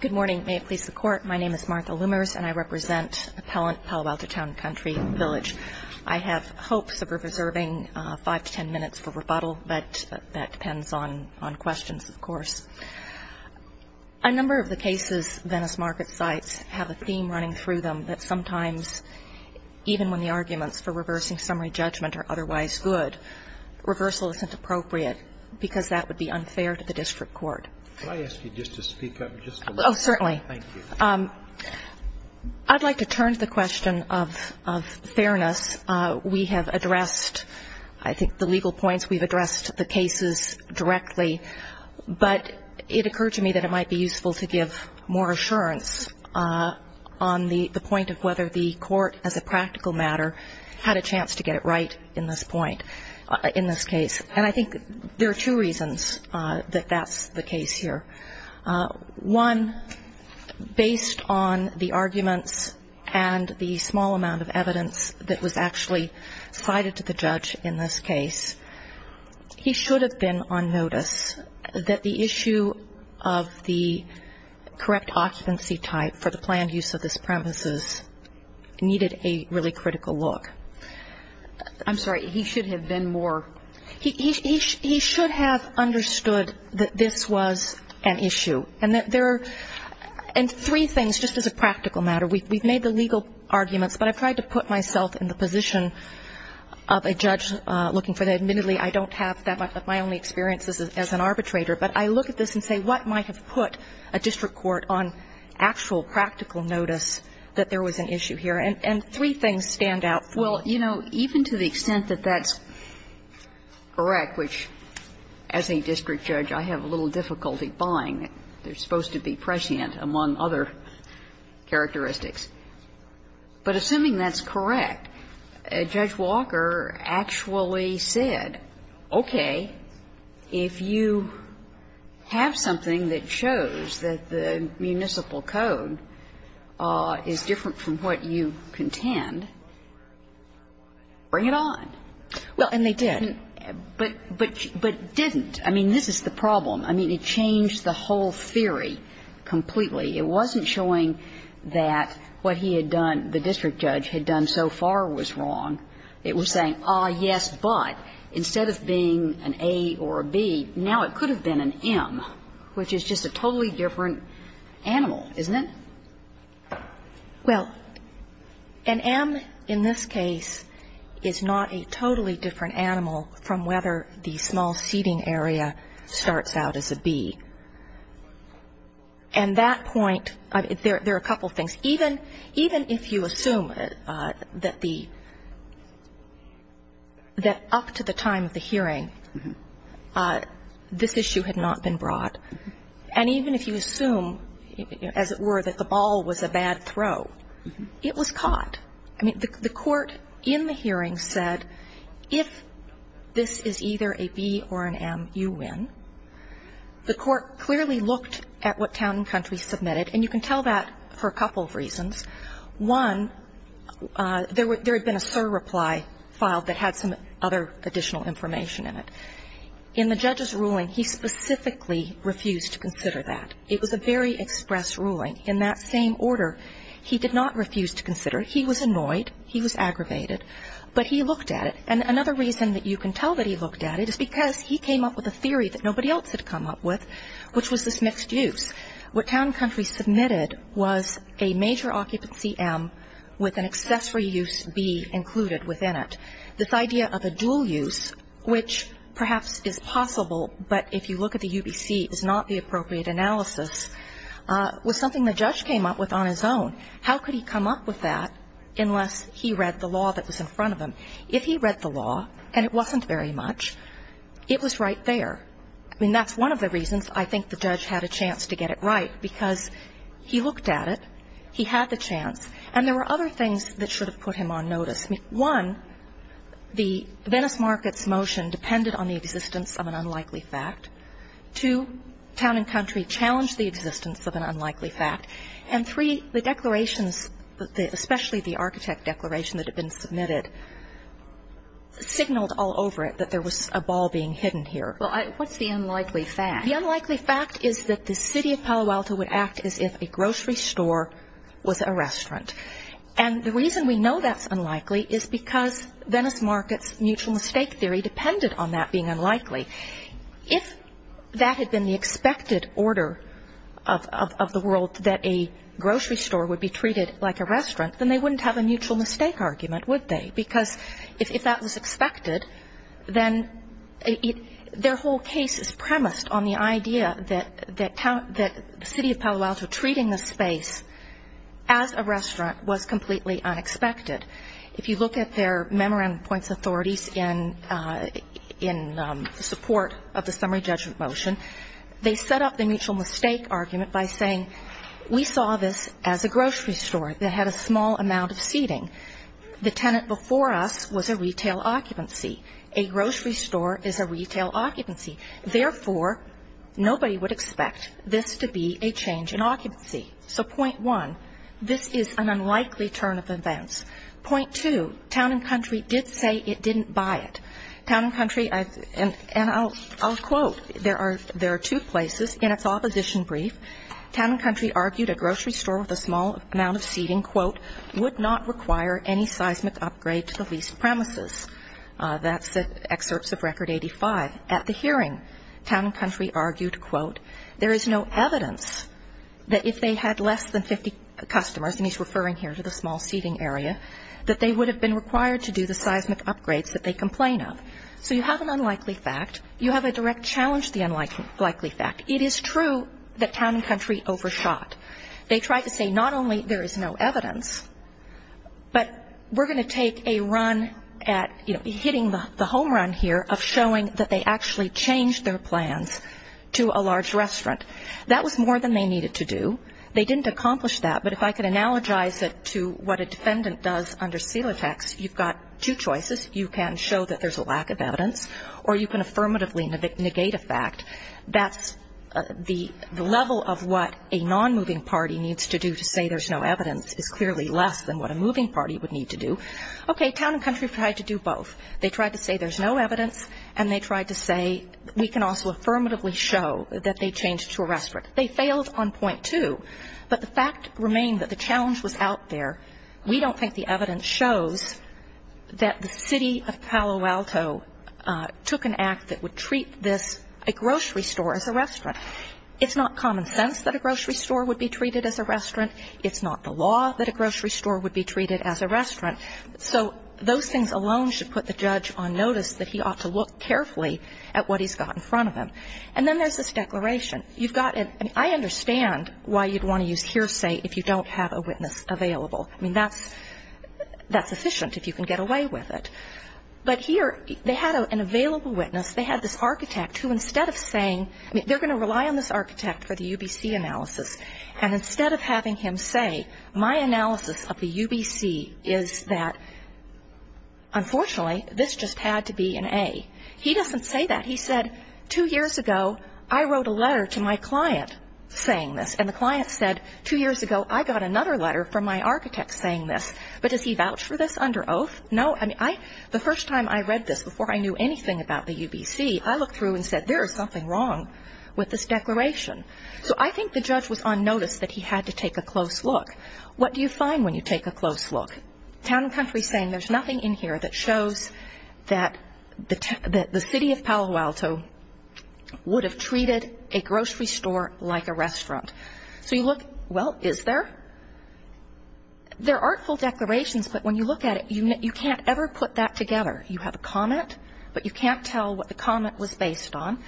Good morning. May it please the Court, my name is Martha Loomers and I represent Appellant Palo Alto Town & Country Village. I have hopes of reserving five to ten minutes for rebuttal, but that depends on questions, of course. A number of the cases Venice Market cites have a theme running through them that sometimes, even when the arguments for reversing summary judgment are otherwise good, reversal isn't appropriate because that would be unfair to the district court. Could I ask you just to speak up just a little bit? Oh, certainly. Thank you. I'd like to turn to the question of fairness. We have addressed, I think, the legal points. We've addressed the cases directly, but it occurred to me that it might be useful to give more assurance on the point of whether the court, as a practical matter, had a chance to get it right in this point, in this case. And I think there are two reasons that that's the case here. One, based on the arguments and the small amount of evidence that was actually cited to the judge in this case, he should have been on notice that the issue of the correct occupancy type for the planned use of this premises needed a really critical look. I'm sorry. He should have been more. He should have understood that this was an issue. And there are three things, just as a practical matter. We've made the legal arguments, but I've tried to put myself in the position of a judge looking for that. Admittedly, I don't have that much of my own experience as an arbitrator. But I look at this and say, what might have put a district court on actual practical notice that there was an issue here? And three things stand out. Well, you know, even to the extent that that's correct, which, as a district judge, I have a little difficulty buying. They're supposed to be prescient, among other characteristics. But assuming that's correct, Judge Walker actually said, okay, if you have something that shows that the municipal code is different from what you contend, bring it on. Well, and they did. But didn't. I mean, this is the problem. I mean, it changed the whole theory completely. It wasn't showing that what he had done, the district judge had done so far was wrong. It was saying, ah, yes, but instead of being an A or a B, now it could have been an M, which is just a totally different animal, isn't it? Well, an M in this case is not a totally different animal from whether the small seating area starts out as a B. And that point, there are a couple of things. Even if you assume that the up to the time of the hearing, this issue had not been brought, and even if you assume, as it were, that the ball was a bad throw, it was caught. I mean, the Court in the hearing said, if this is either a B or an M, you win. The Court clearly looked at what Town & Country submitted, and you can tell that for a couple of reasons. One, there had been a surreply filed that had some other additional information in it. In the judge's ruling, he specifically refused to consider that. It was a very express ruling. In that same order, he did not refuse to consider. He was annoyed. He was aggravated. But he looked at it. And another reason that you can tell that he looked at it is because he came up with a theory that nobody else had come up with, which was this mixed use. What Town & Country submitted was a major occupancy M with an accessory use B included within it. This idea of a dual use, which perhaps is possible, but if you look at the UBC, is not the appropriate analysis, was something the judge came up with on his own. How could he come up with that unless he read the law that was in front of him? If he read the law, and it wasn't very much, it was right there. I mean, that's one of the reasons I think the judge had a chance to get it right, because he looked at it. He had the chance. And there were other things that should have put him on notice. One, the Venice markets motion depended on the existence of an unlikely fact. Two, Town & Country challenged the existence of an unlikely fact. And three, the declarations, especially the architect declaration that had been submitted, signaled all over it that there was a ball being hidden here. Well, what's the unlikely fact? The unlikely fact is that the city of Palo Alto would act as if a grocery store was a restaurant. And the reason we know that's unlikely is because Venice markets mutual mistake theory depended on that being unlikely. If that had been the expected order of the world that a grocery store would be treated like a restaurant, then they wouldn't have a mutual mistake argument, would they? Because if that was expected, then their whole case is premised on the idea that the city of Palo Alto treating the space as a restaurant was completely unexpected. If you look at their memorandum of points authorities in support of the summary judgment motion, they set up the mutual mistake argument by saying we saw this as a grocery store that had a small amount of seating. The tenant before us was a retail occupancy. A grocery store is a retail occupancy. Therefore, nobody would expect this to be a change in occupancy. So point one, this is an unlikely turn of events. Point two, town and country did say it didn't buy it. Town and country, and I'll quote. There are two places. In its opposition brief, town and country argued a grocery store with a small amount of seating, quote, would not require any seismic upgrade to the leased premises. That's the excerpts of Record 85. At the hearing, town and country argued, quote, there is no evidence that if they had less than 50 customers, and he's referring here to the small seating area, that they would have been required to do the seismic upgrades that they complain of. So you have an unlikely fact. You have a direct challenge to the unlikely fact. It is true that town and country overshot. They tried to say not only there is no evidence, but we're going to take a run at, you know, hitting the home run here of showing that they actually changed their plans to a large restaurant. That was more than they needed to do. They didn't accomplish that. But if I could analogize it to what a defendant does under Celotex, you've got two choices. You can show that there's a lack of evidence, or you can affirmatively negate a fact. That's the level of what a non-moving party needs to do to say there's no evidence is clearly less than what a moving party would need to do. Okay. Town and country tried to do both. They tried to say there's no evidence, and they tried to say we can also go to a restaurant. They failed on point two. But the fact remained that the challenge was out there. We don't think the evidence shows that the City of Palo Alto took an act that would treat this, a grocery store as a restaurant. It's not common sense that a grocery store would be treated as a restaurant. It's not the law that a grocery store would be treated as a restaurant. So those things alone should put the judge on notice that he ought to look carefully at what he's got in front of him. And then there's this declaration. I understand why you'd want to use hearsay if you don't have a witness available. I mean, that's efficient if you can get away with it. But here they had an available witness. They had this architect who instead of saying they're going to rely on this architect for the UBC analysis, and instead of having him say my analysis of the UBC is that unfortunately this just had to be an A, he doesn't say that. He said two years ago I wrote a letter to my client saying this. And the client said two years ago I got another letter from my architect saying this. But does he vouch for this under oath? No. I mean, the first time I read this before I knew anything about the UBC, I looked through and said there is something wrong with this declaration. So I think the judge was on notice that he had to take a close look. What do you find when you take a close look? Town and country saying there's nothing in here that shows that the city of Palo Alto would have treated a grocery store like a restaurant. So you look, well, is there? There aren't full declarations, but when you look at it, you can't ever put that together. You have a comment, but you can't tell what the comment was based on.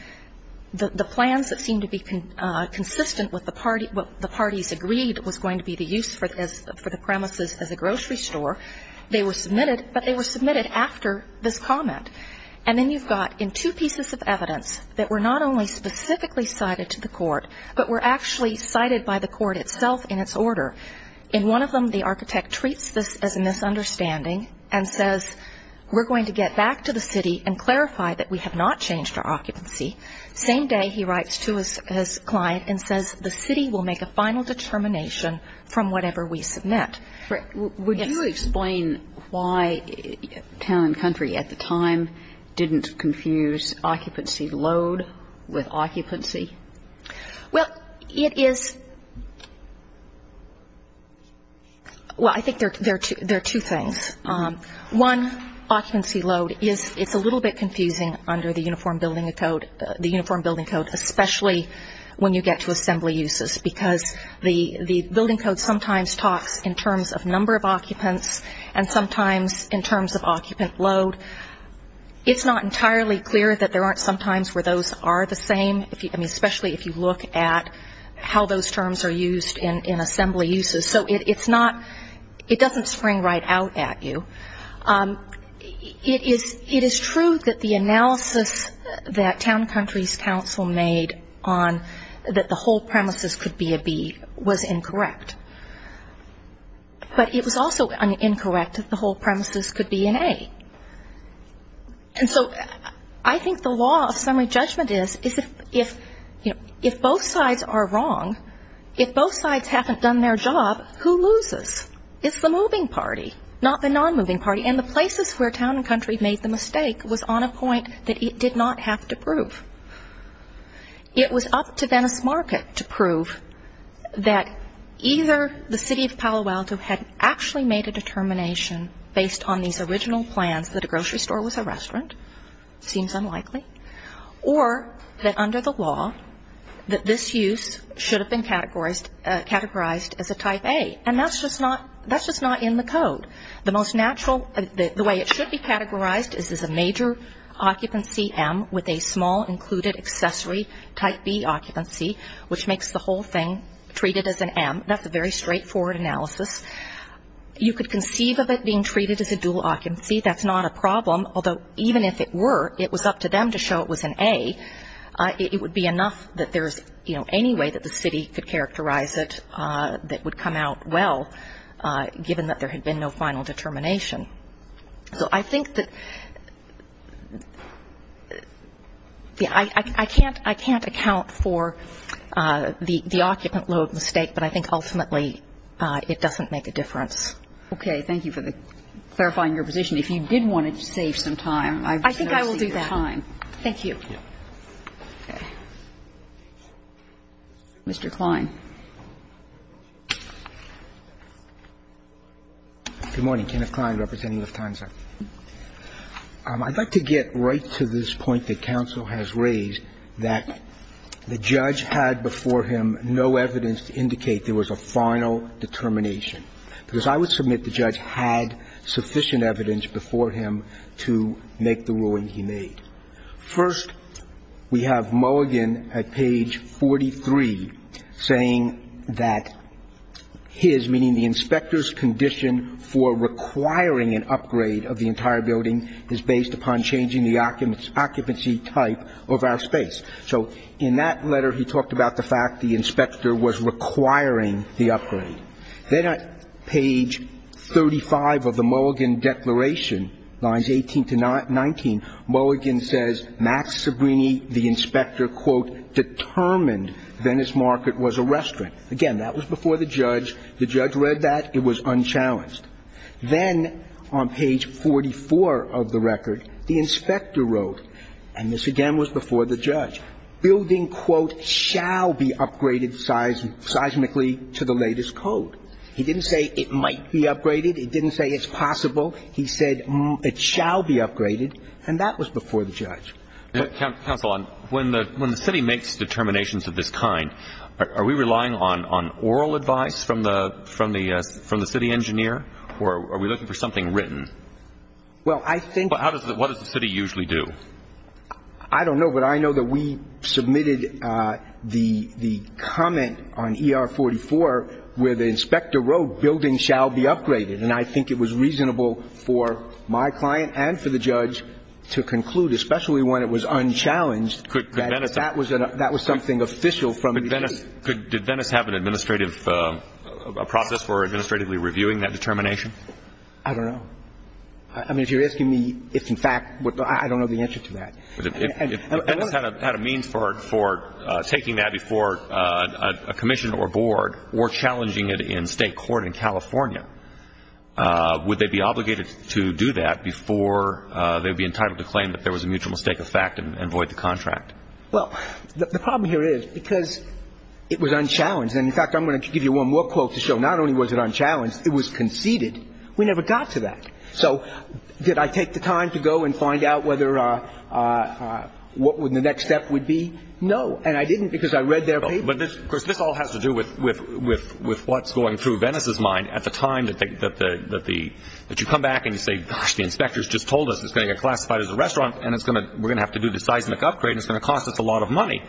The plans that seem to be consistent with what the parties agreed was going to be the use for the premises as a grocery store. They were submitted, but they were submitted after this comment. And then you've got in two pieces of evidence that were not only specifically cited to the court, but were actually cited by the court itself in its order. In one of them the architect treats this as a misunderstanding and says we're going to get back to the city and clarify that we have not changed our occupancy. Same day he writes to his client and says the city will make a final determination from whatever we submit. Would you explain why town and country at the time didn't confuse occupancy load with occupancy? Well, it is – well, I think there are two things. One, occupancy load is – it's a little bit confusing under the uniform building code, the uniform building code, especially when you get to assembly uses, because the building code sometimes talks in terms of number of occupants and sometimes in terms of occupant load. It's not entirely clear that there aren't some times where those are the same, especially if you look at how those terms are used in assembly uses. So it's not – it doesn't spring right out at you. It is true that the analysis that town and country's counsel made on that the whole premises could be a B was incorrect. But it was also incorrect that the whole premises could be an A. And so I think the law of summary judgment is if both sides are wrong, if both sides haven't done their job, who loses? It's the moving party, not the non-moving party. And the places where town and country made the mistake was on a point that it did not have to prove. It was up to Venice Market to prove that either the city of Palo Alto had actually made a determination based on these original plans that a grocery store was a restaurant, seems unlikely, or that under the law that this use should have been categorized as a type A. And that's just not – that's just not in the code. The most natural – the way it should be categorized is as a major occupancy M with a small included accessory type B occupancy, which makes the whole thing treated as an M. That's a very straightforward analysis. You could conceive of it being treated as a dual occupancy. That's not a problem, although even if it were, it was up to them to show it was an A. It would be enough that there's, you know, any way that the city could characterize it that would come out well, given that there had been no final determination. So I think that – yeah, I can't – I can't account for the occupant load mistake, but I think ultimately it doesn't make a difference. Okay. Thank you for the – clarifying your position. If you did want to save some time, I would see the time. I think I will do that. Thank you. Mr. Kline. Good morning. Kenneth Kline, representing Lufthansa. I'd like to get right to this point that counsel has raised, that the judge had before him no evidence to indicate there was a final determination, because I would submit that the judge had sufficient evidence before him to make the ruling he made. First, we have Mulligan at page 43 saying that his, meaning the inspector's condition for requiring an upgrade of the entire building is based upon changing the occupancy type of our space. So in that letter he talked about the fact the inspector was requiring the upgrade. Then at page 35 of the Mulligan declaration, lines 18 to 19, Mulligan says, Max Sabrini, the inspector, quote, determined Venice Market was a restaurant. Again, that was before the judge. The judge read that. It was unchallenged. Then on page 44 of the record, the inspector wrote, and this again was before the judge, building, quote, shall be upgraded seismically to the latest code. He didn't say it might be upgraded. He didn't say it's possible. He said it shall be upgraded, and that was before the judge. Counsel, when the city makes determinations of this kind, are we relying on oral advice from the city engineer, or are we looking for something written? Well, I think the city usually do. I don't know, but I know that we submitted the comment on ER44 where the inspector wrote, building shall be upgraded, and I think it was reasonable for my client and for the judge to conclude, especially when it was unchallenged, that that was something official from the city. Did Venice have an administrative process for administratively reviewing that determination? I don't know. I mean, if you're asking me if, in fact, I don't know the answer to that. If Venice had a means for taking that before a commission or board or challenging it in state court in California, would they be obligated to do that before they would be entitled to claim that there was a mutual mistake of fact and void the contract? Well, the problem here is because it was unchallenged. And, in fact, I'm going to give you one more quote to show not only was it unchallenged, it was conceded. We never got to that. So did I take the time to go and find out whether what the next step would be? No. And I didn't because I read their paper. But, of course, this all has to do with what's going through Venice's mind at the time that you come back and you say, gosh, the inspectors just told us it's going to get classified as a restaurant, and we're going to have to do the seismic upgrade, and it's going to cost us a lot of money.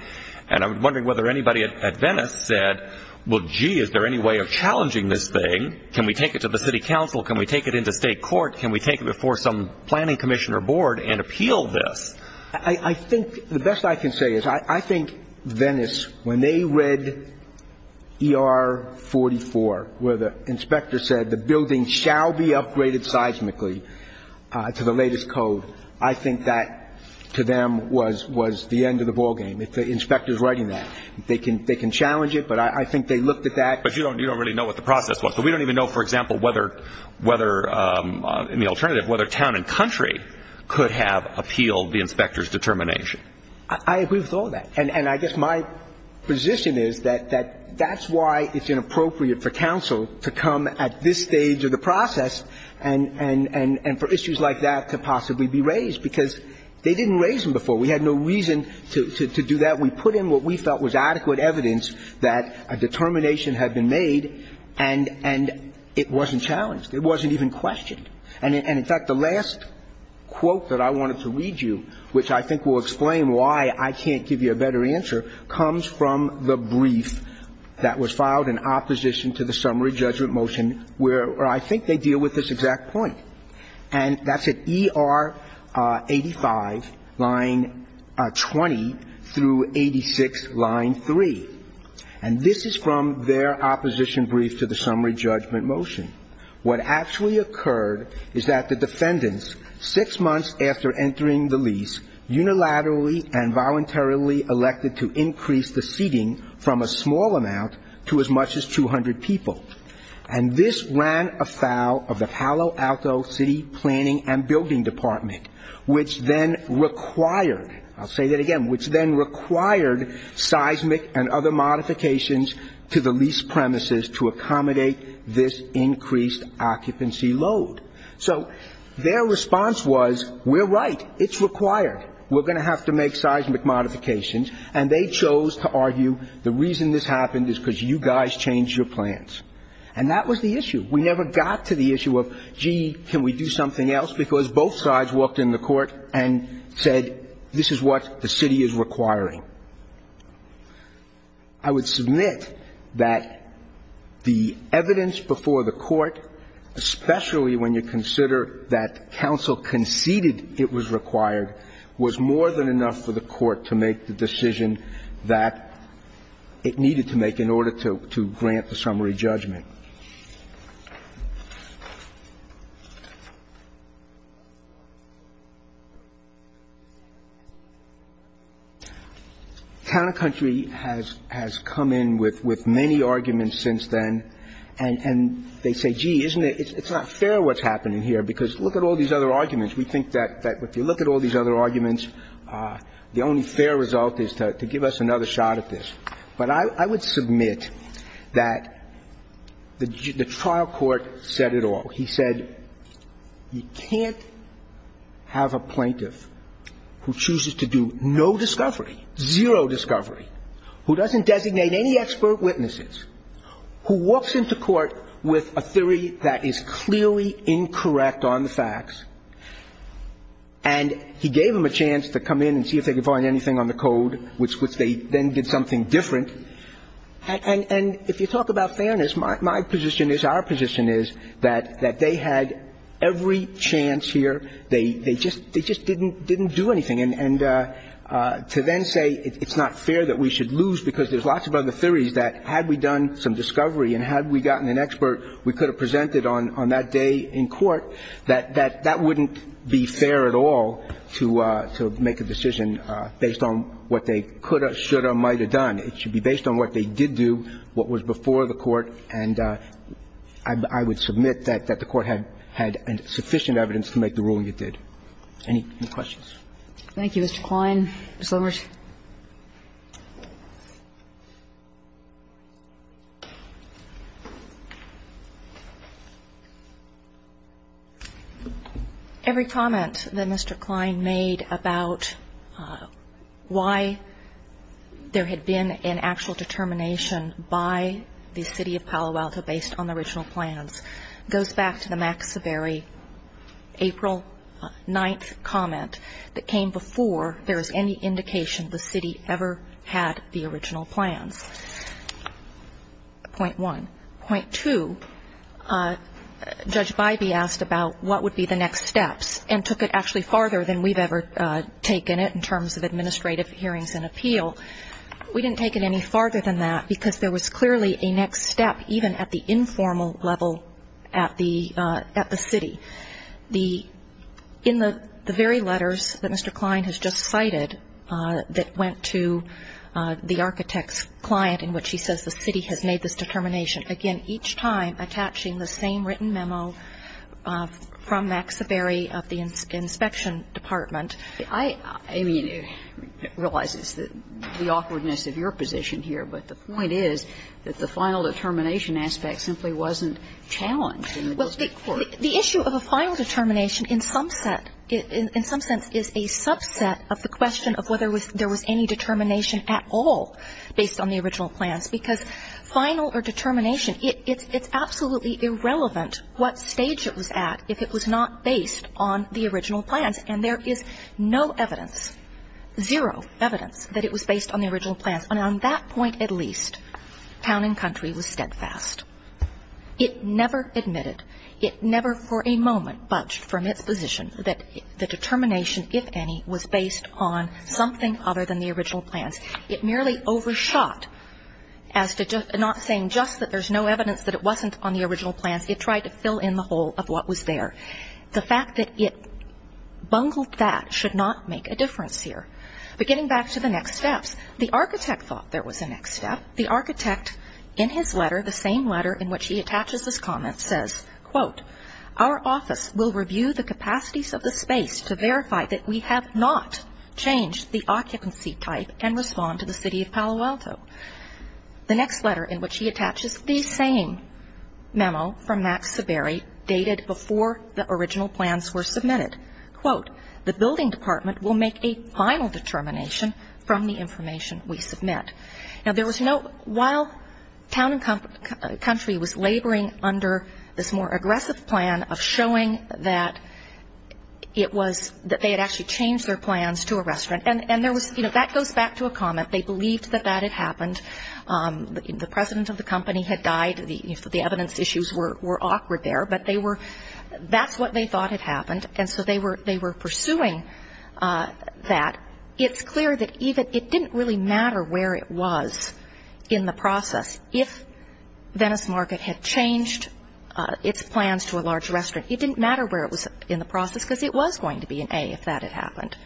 And I'm wondering whether anybody at Venice said, well, gee, is there any way of challenging this thing? Can we take it to the city council? Can we take it into state court? Can we take it before some planning commissioner board and appeal this? I think the best I can say is I think Venice, when they read ER44, where the inspector said the building shall be upgraded seismically to the latest code, I think that, to them, was the end of the ballgame. The inspector's writing that. They can challenge it, but I think they looked at that. But you don't really know what the process was. So we don't even know, for example, whether, in the alternative, whether town and country could have appealed the inspector's determination. I agree with all that. And I guess my position is that that's why it's inappropriate for council to come at this stage of the process and for issues like that to possibly be raised, because they didn't raise them before. We had no reason to do that. We put in what we felt was adequate evidence that a determination had been made, and it wasn't challenged. It wasn't even questioned. And, in fact, the last quote that I wanted to read you, which I think will explain why I can't give you a better answer, comes from the brief that was filed in opposition to the summary judgment motion where I think they deal with this exact point. And that's at ER 85, line 20, through 86, line 3. And this is from their opposition brief to the summary judgment motion. What actually occurred is that the defendants, six months after entering the lease, unilaterally and voluntarily elected to increase the seating from a small amount to as much as 200 people. And this ran afoul of the Palo Alto City Planning and Building Department, which then required, I'll say that again, which then required seismic and other modifications to the lease premises to accommodate this increased occupancy load. So their response was, we're right. It's required. We're going to have to make seismic modifications. And they chose to argue the reason this happened is because you guys changed your plans. And that was the issue. We never got to the issue of, gee, can we do something else, because both sides walked in the court and said, this is what the city is requiring. I would submit that the evidence before the court, especially when you consider that counsel conceded it was required, was more than enough for the court to make the decision that it needed to make in order to grant the summary judgment. Countercountry has come in with many arguments since then. And they say, gee, it's not fair what's happening here, because look at all these other arguments. We think that if you look at all these other arguments, the only fair result is to give us another shot at this. But I would submit that the trial court said it all. He said you can't have a plaintiff who chooses to do no discovery, zero discovery, who doesn't designate any expert witnesses, who walks into court with a theory that is clearly incorrect on the facts, and he gave them a chance to come in and see if they could find anything on the code, which they then did something different. And if you talk about fairness, my position is, our position is, that they had every chance here. They just didn't do anything. And to then say it's not fair that we should lose, because there's lots of other theories, that had we done some discovery and had we gotten an expert we could have presented on that day in court, that that wouldn't be fair at all to make a decision based on what they could have, should have, might have done. It should be based on what they did do, what was before the court, and I would submit that the court had sufficient evidence to make the ruling it did. Any questions? Thank you, Mr. Kline. Ms. Lomers. Every comment that Mr. Kline made about why there had been an actual determination by the City of Palo Alto based on the original plans goes back to the Max Severy, April 9th, comment that came before there was any indication the City ever had the original plans. Point one. Point two, Judge Bybee asked about what would be the next steps and took it actually farther than we've ever taken it in terms of administrative hearings and appeal. We didn't take it any farther than that, because there was clearly a next step, even at the informal level at the City. In the very letters that Mr. Kline has just cited that went to the architect's client in which he says the City has made this determination, again, each time attaching the same written memo from Max Severy of the inspection department. I mean, it realizes the awkwardness of your position here, but the point is that the final determination aspect simply wasn't challenged. Well, the issue of a final determination in some sense is a subset of the question of whether there was any determination at all based on the original plans, because final or determination, it's absolutely irrelevant what stage it was at if it was not based on the original plans. And there is no evidence, zero evidence that it was based on the original plans. And on that point at least, Town and Country was steadfast. It never admitted, it never for a moment budged from its position that the determination, if any, was based on something other than the original plans. It merely overshot as to not saying just that there's no evidence that it wasn't on the original plans. It tried to fill in the hole of what was there. The fact that it bungled that should not make a difference here. But getting back to the next steps, the architect thought there was a next step. The architect, in his letter, the same letter in which he attaches this comment, says, quote, our office will review the capacities of the space to verify that we have not changed the occupancy type and respond to the city of Palo Alto. The next letter in which he attaches the same memo from Max Seberry dated before the original plans were submitted, quote, the building department will make a final determination from the information we submit. Now, there was no, while Town and Country was laboring under this more aggressive plan of showing that it was, that they had actually changed their plans to a restaurant, and there was, you know, that goes back to a comment. They believed that that had happened. The president of the company had died. The evidence issues were awkward there. But they were, that's what they thought had happened. And so they were pursuing that. It's clear that even, it didn't really matter where it was in the process. If Venice Market had changed its plans to a large restaurant, it didn't matter where it was in the process, because it was going to be an A if that had happened.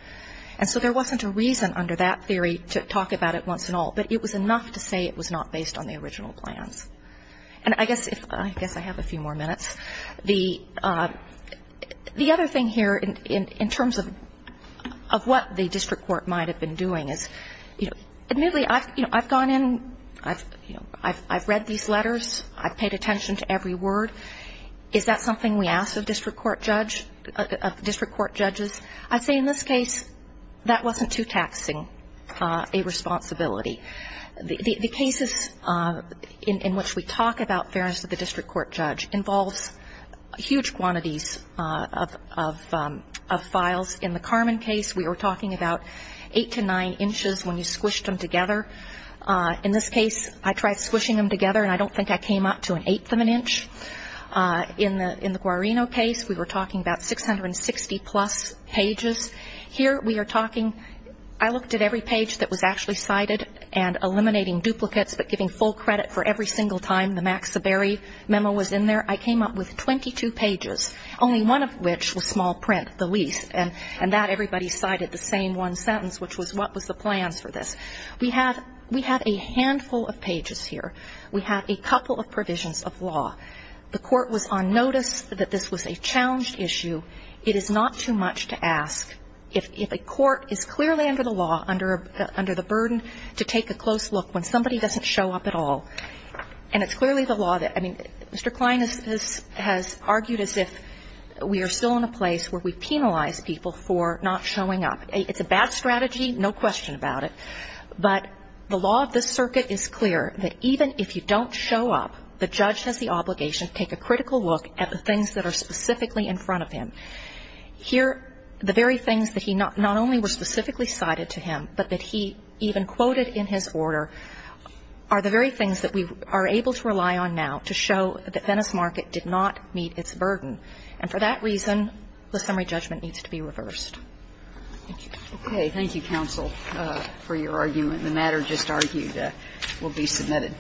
And so there wasn't a reason under that theory to talk about it once and all. But it was enough to say it was not based on the original plans. And I guess if, I guess I have a few more minutes. The other thing here in terms of what the district court might have been doing is, you know, admittedly I've gone in, you know, I've read these letters. I've paid attention to every word. Is that something we ask of district court judge, of district court judges? I'd say in this case that wasn't too taxing a responsibility. The cases in which we talk about fairness of the district court judge involves huge quantities of files. In the Carmen case, we were talking about eight to nine inches when you squished them together. In this case, I tried squishing them together, and I don't think I came up to an eighth of an inch. In the Guarino case, we were talking about 660-plus pages. Here we are talking, I looked at every page that was actually cited and eliminating duplicates but giving full credit for every single time the Max Seberry memo was in there. I came up with 22 pages, only one of which was small print, the least, and that everybody cited the same one sentence, which was what was the plans for this. We have a handful of pages here. We have a couple of provisions of law. The court was on notice that this was a challenged issue. It is not too much to ask. If a court is clearly under the law, under the burden to take a close look when somebody doesn't show up at all, and it's clearly the law that Mr. Klein has argued as if we are still in a place where we penalize people for not showing up. It's a bad strategy, no question about it. But the law of this circuit is clear that even if you don't show up, the judge has the obligation to take a critical look at the things that are specifically in front of him. Here, the very things that he not only were specifically cited to him, but that he even quoted in his order, are the very things that we are able to rely on now to show that Venice Market did not meet its burden. And for that reason, the summary judgment needs to be reversed. Thank you. Okay. Thank you, counsel, for your argument. The matter just argued will be submitted.